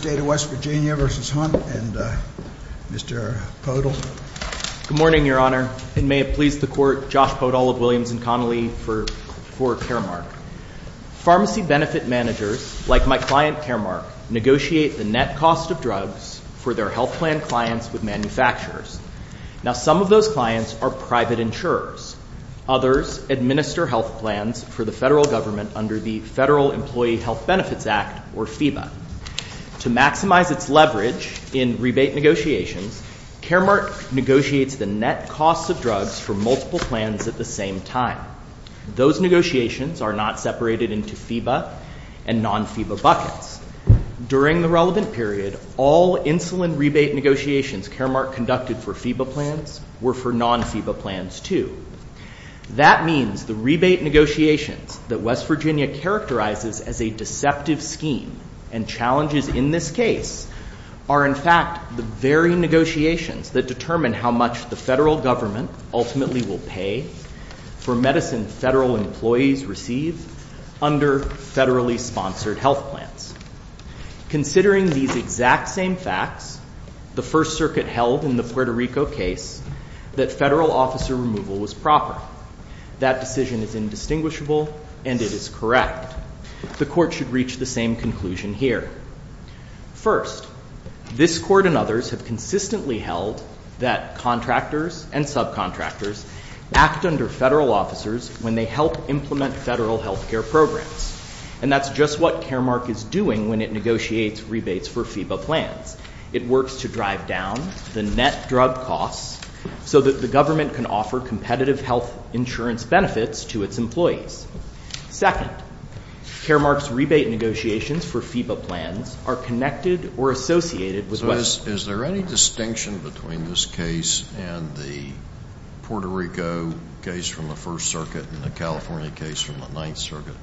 Good morning, Your Honor, and may it please the Court, Josh Podol of Williams and Connolly for Caremark. Pharmacy benefit managers, like my client Caremark, negotiate the net cost of drugs for their health plan clients with manufacturers. Now, some of those clients are private insurers. Others administer health plans for the federal government under the Federal Employee Health Benefits Act, or FEBA. To maximize its leverage in rebate negotiations, Caremark negotiates the net cost of drugs for multiple plans at the same time. Those negotiations are not separated into FEBA and non-FEBA buckets. During the relevant period, all insulin rebate negotiations Caremark conducted for FEBA plans were for non-FEBA plans, too. That means the rebate negotiations that West Virginia characterizes as a deceptive scheme and challenges in this case are, in fact, the very negotiations that determine how much the federal government ultimately will pay for medicine federal employees receive under federally sponsored health plans. Considering these exact same facts, the First Federal Officer removal was proper. That decision is indistinguishable and it is correct. The Court should reach the same conclusion here. First, this Court and others have consistently held that contractors and subcontractors act under federal officers when they help implement federal health care programs. And that's just what Caremark is doing when it negotiates competitive health insurance benefits to its employees. Second, Caremark's rebate negotiations for FEBA plans are connected or associated with West Virginia. Is there any distinction between this case and the Puerto Rico case from the First Circuit and the California case from the Ninth Circuit?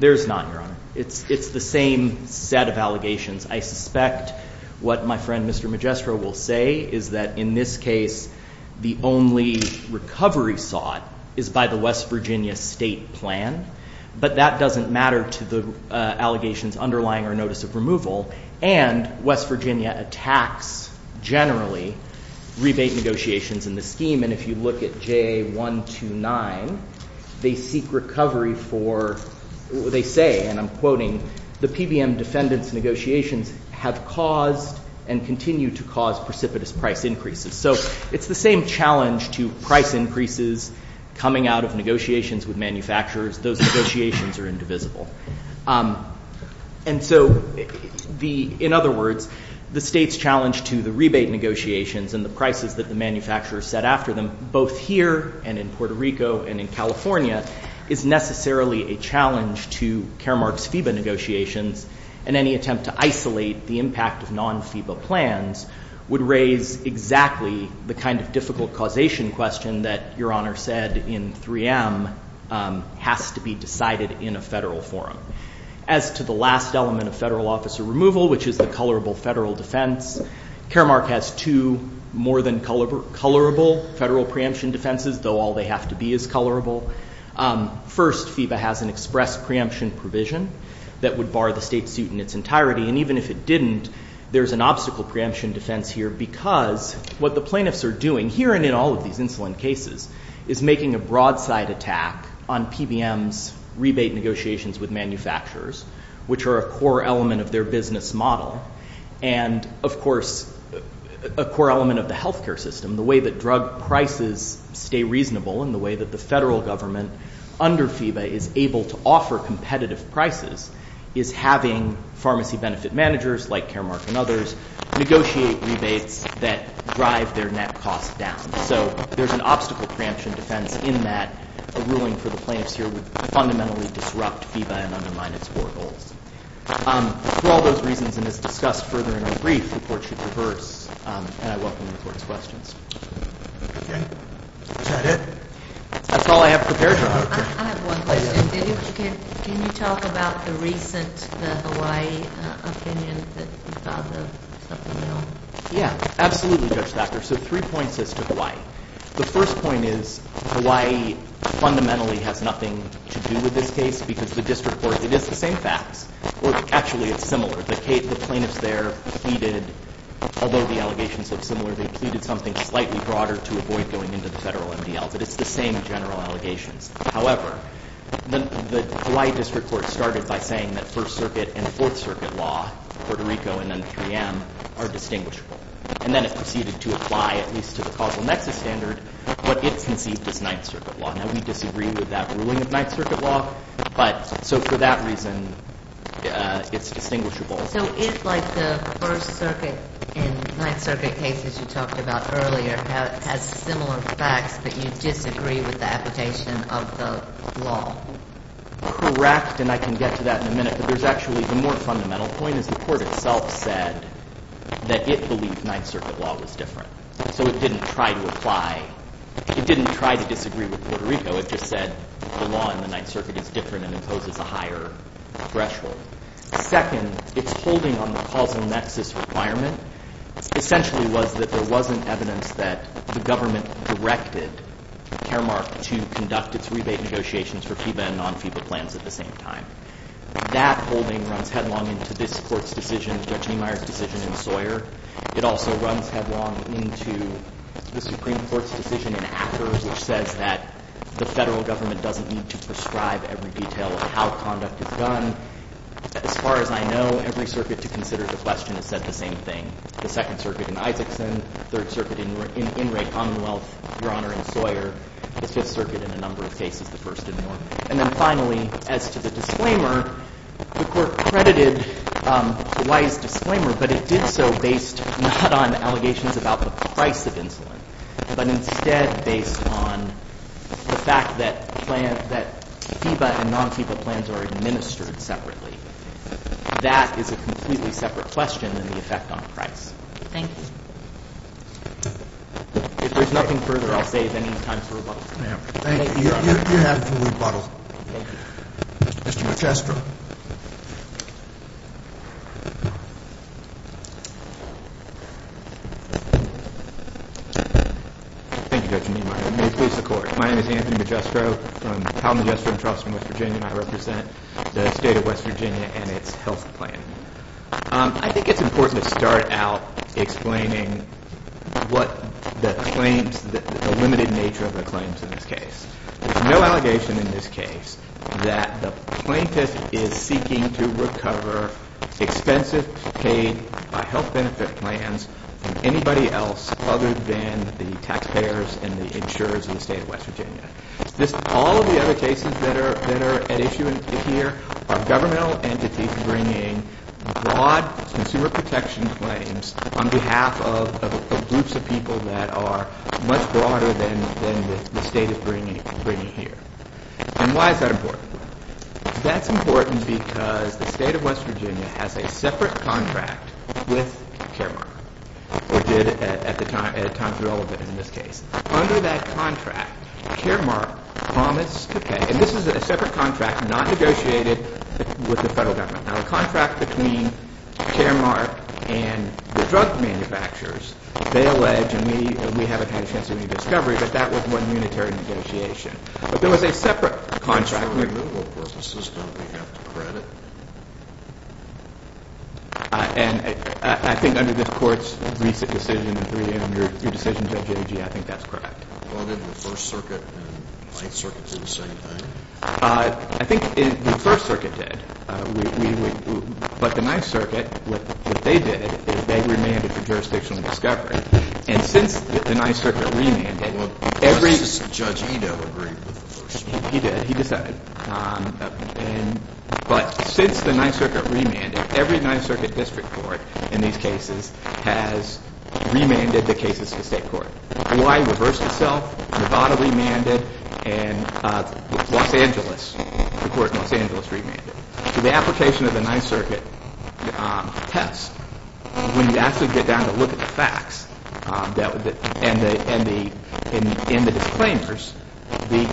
There's not, Your Honor. It's the same set of allegations. I suspect what my friend Mr. Magestro will say is that in this case, the only recovery sought is by the West Virginia state plan. But that doesn't matter to the allegations underlying our notice of removal. And West Virginia attacks generally rebate negotiations in the scheme. And if you look at JA129, they seek recovery for, they say, and I'm quoting, the PBM defendants' negotiations have caused and continue to cause precipitous price increases. So it's the same challenge to price increases coming out of negotiations with manufacturers. Those negotiations are indivisible. And so the, in other words, the state's challenge to the rebate negotiations and the prices that the manufacturers set after them, both here and in Puerto Rico and in California, is necessarily a challenge to Caremark's FEBA negotiations. And any attempt to isolate the impact of non-FEBA plans would raise exactly the kind of difficult causation question that Your Honor said in 3M has to be decided in a federal forum. As to the last element of federal officer removal, which is the colorable federal defense, Caremark has two more than colorable federal preemption defenses, though all they have to be is colorable. First, FEBA has an express preemption provision that would bar the state suit in its entirety. And even if it didn't, there's an obstacle preemption defense here because what the plaintiffs are doing, here and in all of these insulin cases, is making a broadside attack on PBM's rebate negotiations with manufacturers, which are a core element of their business model, and, of course, a core element of the healthcare system, the way that drug prices stay reasonable and the way that the federal government under FEBA is able to offer competitive prices is having pharmacy benefit managers, like Caremark and others, negotiate rebates that drive their net costs down. So there's an obstacle preemption defense in that a ruling for the plaintiffs here would fundamentally disrupt FEBA and undermine its core goals. For all those reasons, and as discussed further in our brief, the court should reverse, and I welcome the court's questions. Okay. Is that it? That's all I have prepared for you. I have one question. Can you talk about the recent Hawaii opinion that you thought of something at all? Yeah, absolutely, Judge Thacker. So three points as to Hawaii. The first point is Hawaii fundamentally has nothing to do with this case because the district court, it is the same facts. Well, actually, it's similar. The plaintiffs there pleaded, although the allegations look similar, they pleaded something slightly broader to avoid going into the federal MDL, but it's the same general allegations. However, the Hawaii district court started by saying that First Circuit and Fourth Circuit law, Puerto Rico and then 3M, are distinguishable. And then it proceeded to apply, at least to the causal nexus standard, what it conceived as Ninth Circuit law. Now, we disagree with that ruling of Ninth Circuit law, but so for that reason, it's distinguishable. So it's like the First Circuit and Ninth Circuit cases you talked about earlier has similar facts, but you disagree with the application of the law. Correct, and I can get to that in a minute, but there's actually the more fundamental point is the court itself said that it believed Ninth Circuit law was different. So it didn't try to apply, it didn't try to disagree with Puerto Rico, it just said the law in the Ninth Circuit was different from the One-Circuit case, and so it's a different case than the It's a very complicated matter. The second thing it's holding on the causal nexus requirement essentially was that there wasn't evidence that the government directed Caremark to conduct its rebate negotiations for FIBA and non-FIBA plans at the same time. That holding runs headlong into this court's decision, Judge Niemeyer's decision in Sawyer. It also runs headlong into the Supreme Court's decision in Akers, which says that the Federal Government doesn't need to prescribe every detail of how conduct is done. As far as I know, every circuit to consider the question has said the same thing. The Second Circuit in Isakson, Third Circuit in Ingrate Commonwealth, Your Honor, in Sawyer, the Fifth Circuit in a number of cases, the First in Norman. And then finally, as to the disclaimer, the Court credited Weiss' disclaimer, but it did so based not on allegations about the price of insulin, but instead on allegations about I think it's important to start out explaining what the claims, the limited nature of the claims in this case. There's no allegation in this case that the plaintiff is seeking to recover expensive paid health benefit plans from anybody else other than the taxpayers and the insurers in the state of West Virginia. All of the other cases that are at issue here are governmental entities bringing broad consumer protection claims on behalf of groups of people that are much broader than the state is bringing here. And why is that important? That's important because the state of West Virginia has a separate contract with Caremark, or did at a time relevant in this case. Under that contract, Caremark promised to pay, and this is a separate contract not negotiated with the federal government. Now, the contract between Caremark and the drug manufacturers, they allege, and we haven't had a chance to make a discovery, but that was one unitary negotiation. But there was a separate contract. For removal purposes, don't we have to credit? And I think under this court's recent decision, under your decision Judge Agee, I think that's correct. Well, did the First Circuit and Ninth Circuit do the same thing? I think the First Circuit did, but the Ninth Circuit, what they did is they remanded for jurisdictional discovery, and since the Ninth Circuit remanded... Well, does Judge Edo agree with the First Circuit? He did. He decided. But since the Ninth Circuit remanded, every Ninth Circuit district court in these cases has remanded the cases to the state court. Hawaii reversed itself. Nevada remanded, and Los Angeles, the court in Los Angeles remanded. The application of the Ninth Circuit test, when you actually get down to look at the facts, in the disclaimers, the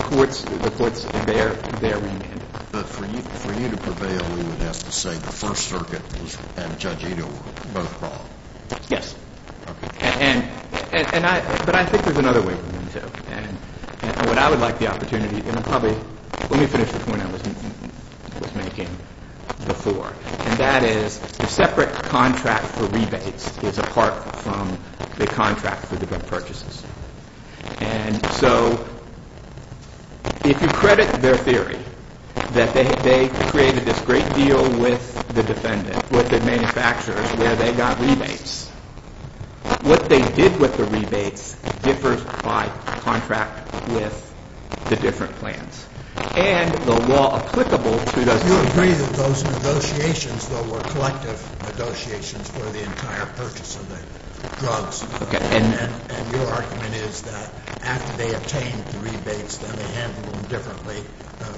courts there remanded. But for you to prevail, you would have to say the First Circuit and Judge Edo were both wrong. Yes. But I think there's another way for them to... What I would like the opportunity... Let me finish the point I was making before, and that is the separate contract for rebates is apart from the contract for the purchases. And so if you credit their theory, that they created this great deal with the defendant, with the manufacturer, where they got rebates, what they did with the rebates differs by contract with the different plans. And the law applicable to those... You agree that those negotiations, though, were collective negotiations for the entire purchase of the drugs. And your argument is that after they obtained the rebates, then they handled them differently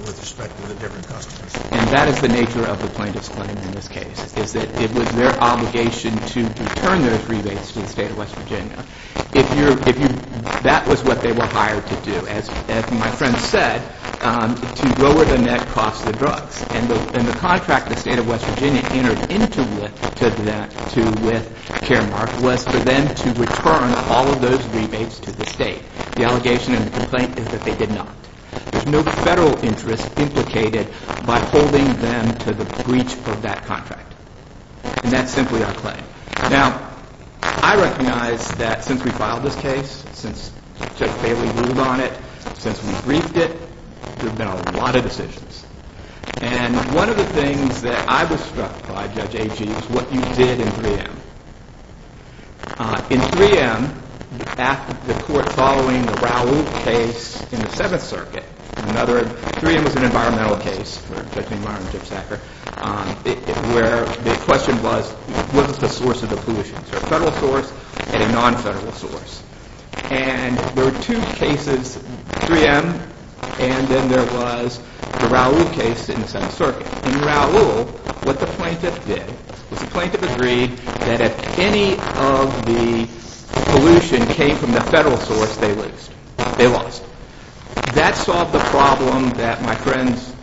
with respect to the different customers. And that is the nature of the plaintiff's claim in this case, is that it was their obligation to return those rebates to the state of West Virginia. That was what they were hired to do, as my friend said, to lower the net cost of the drugs. And the contract the state of West Virginia entered into with Caremark was for them to return all of those rebates to the state. The allegation in the complaint is that they did not. There's no federal interest implicated by holding them to the breach of that contract. And that's simply our claim. Now, I recognize that since we filed this case, since Judge Bailey ruled on it, since we briefed it, there have been a lot of decisions. And one of the things that I was struck by, Judge Agee, is what you did in 3M. In 3M, the court following the Raoult case in the Seventh Circuit, 3M was an environmental case, where the question was, what was the source of the pollution? So a federal source and a non-federal source. And there were two cases, 3M, and then there was the Raoult case in the Seventh Circuit. In Raoult, what the plaintiff did was the plaintiff agreed that if any of the pollution came from the federal source, they lost. That solved the problem that my friends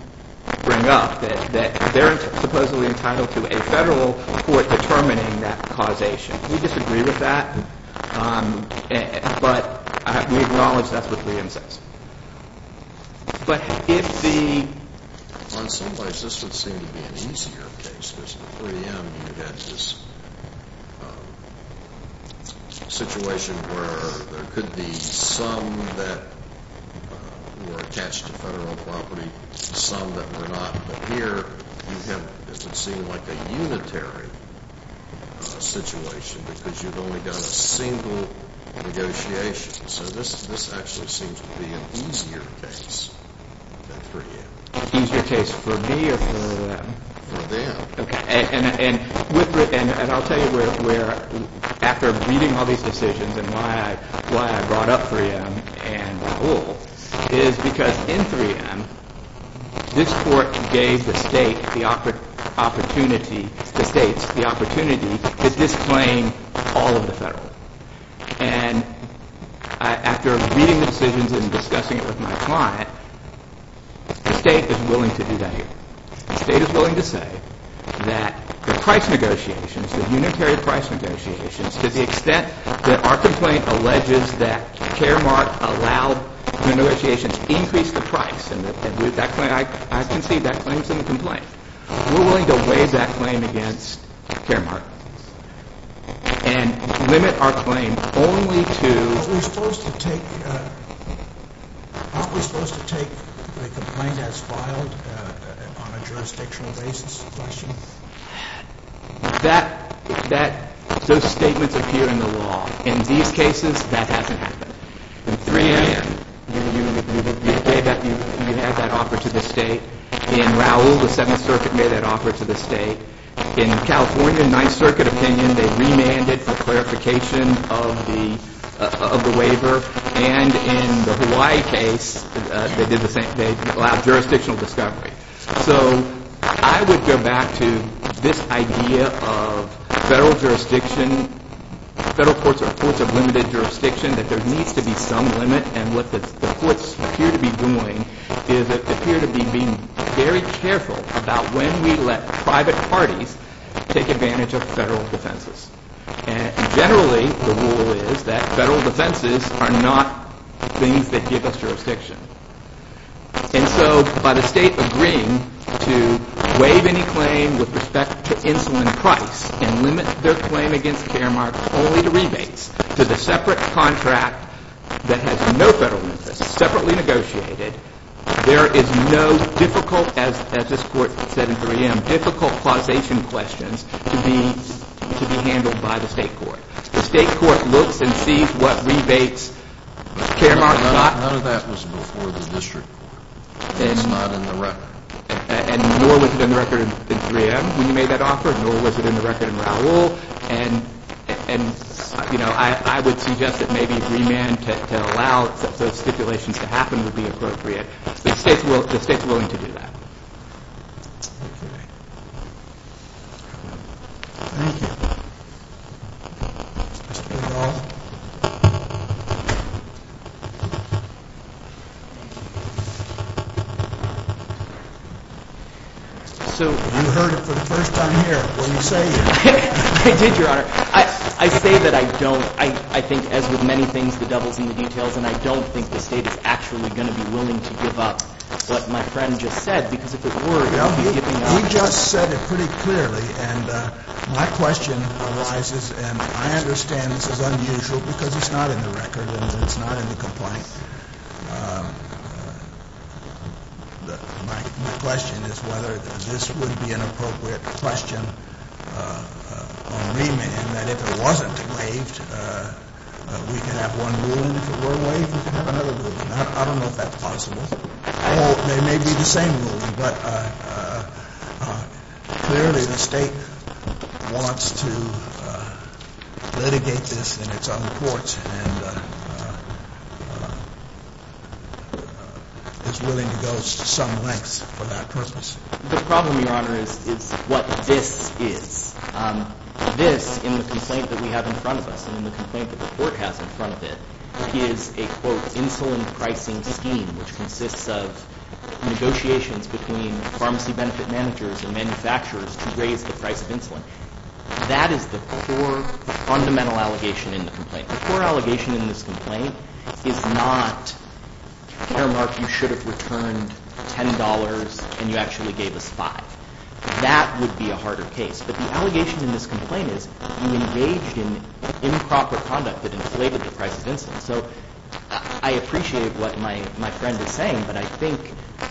bring up, that they're supposedly entitled to a federal court determining that causation. We disagree with that, but we acknowledge that's what 3M says. But if the... On some places, this would seem to be an easier case, because in 3M, you had this situation where there could be some that were attached to federal property, some that were not. But here, you have what would seem like a unitary situation, because you've only done a single negotiation. So this actually seems to be an easier case than 3M. An easier case for me or for them? For them. Okay. And I'll tell you where, after reading all these decisions and why I brought up 3M and Raoult, is because in 3M, this court gave the state the opportunity to disclaim all of the federal. And after reading the decisions and discussing it with my client, the state is willing to do that here. The state is willing to say that the price negotiations, the unitary price negotiations, to the extent that our complaint alleges that Caremark allowed the negotiations to increase the price, and I concede that claim's in the complaint. We're willing to weigh that claim against Caremark and limit our claim only to... Aren't we supposed to take the complaint as filed on a jurisdictional basis? Those statements appear in the law. In these cases, that hasn't happened. In 3M, you had that offer to the state. In Raoult, the Seventh Circuit made that offer to the state. In California, Ninth Circuit opinion, they remanded for clarification of the waiver. And in the Hawaii case, they did the same. They allowed jurisdictional discovery. So I would go back to this idea of federal jurisdiction, federal courts are courts of limited jurisdiction, that there needs to be some limit. And what the courts appear to be doing is they appear to be being very careful about when we let private parties take advantage of federal defenses. Generally, the rule is that federal defenses are not things that give us jurisdiction. And so by the state agreeing to waive any claim with respect to insulin price and limit their claim against Caremark only to rebates, to the separate contract that has no federal interest, separately negotiated, there is no difficult, as this court said in 3M, difficult causation questions to be handled by the state court. The state court looks and sees what rebates Caremark got. None of that was before the district court. It's not in the record. And nor was it in the record in 3M when you made that offer, nor was it in the record in Raoult. And I would suggest that maybe remand to allow those stipulations to happen would be appropriate. The state's willing to do that. Thank you. Thank you. You heard it for the first time here when you say it. I did, Your Honor. I say that I don't. I think, as with many things, the devil's in the details, and I don't think the state is actually going to be willing to give up what my friend just said, because if it were, it would be giving up. He just said it pretty clearly, and my question arises, and I understand this is unusual because it's not in the record and it's not in the complaint. My question is whether this would be an appropriate question on remand, and that if it wasn't waived, we could have one ruling. If it were waived, we could have another ruling. I don't know if that's possible. They may be the same ruling, but clearly the state wants to litigate this in its own courts and is willing to go to some lengths for that purpose. The problem, Your Honor, is what this is. This, in the complaint that we have in front of us, in the complaint that the court has in front of it, is a, quote, insulin pricing scheme, which consists of negotiations between pharmacy benefit managers and manufacturers to raise the price of insulin. That is the core, fundamental allegation in the complaint. The core allegation in this complaint is not, Herr Mark, you should have returned $10 and you actually gave us $5. That would be a harder case. But the allegation in this complaint is you engaged in improper conduct that inflated the price of insulin. So I appreciate what my friend is saying, but I think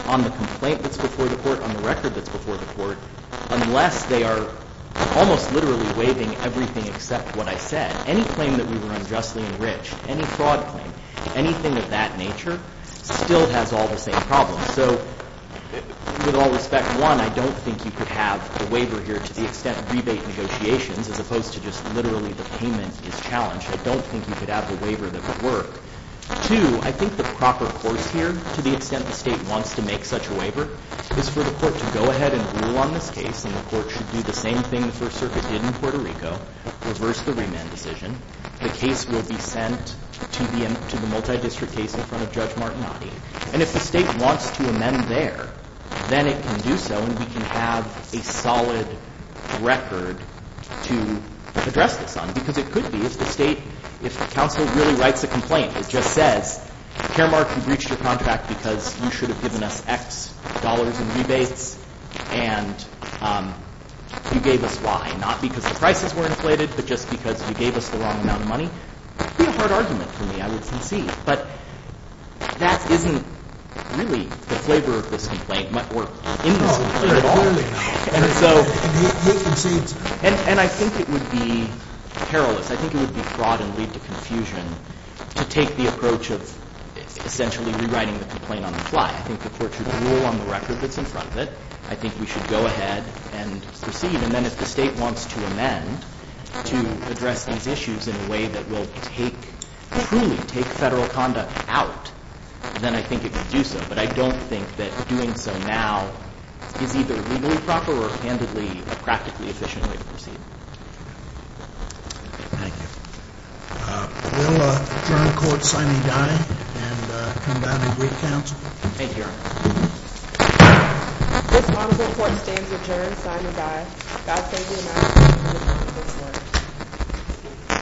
on the complaint that's before the court, on the record that's before the court, unless they are almost literally waiving everything except what I said, any claim that we were unjustly enriched, any fraud claim, anything of that nature still has all the same problems. So with all respect, one, I don't think you could have a waiver here to the extent rebate negotiations, as opposed to just literally the payment is challenged. I don't think you could have a waiver that would work. Two, I think the proper course here, to the extent the state wants to make such a waiver, is for the court to go ahead and rule on this case, and the court should do the same thing the First Circuit did in Puerto Rico, reverse the remand decision. The case will be sent to the multidistrict case in front of Judge Martinotti. And if the state wants to amend there, then it can do so, and we can have a solid record to address this on. Because it could be, if the state, if the counsel really writes a complaint, it just says, Chairmark, you breached your contract because you should have given us X dollars in rebates, and you gave us Y, not because the prices were inflated, but just because you gave us the wrong amount of money. It would be a hard argument for me, I would concede. But that isn't really the flavor of this complaint or in this complaint at all. And so, and I think it would be perilous. I think it would be fraud and lead to confusion to take the approach of essentially rewriting the complaint on the fly. I think the court should rule on the record that's in front of it. I think we should go ahead and proceed. And then if the state wants to amend to address these issues in a way that will take, truly take federal conduct out, then I think it would do so. But I don't think that doing so now is either legally proper or, candidly, a practically efficient way to proceed. Thank you. Will the adjourned court sign and die, and come down and agree to counsel? Thank you, Your Honor. This honorable court stands adjourned, sign and die. Thank you, Your Honor.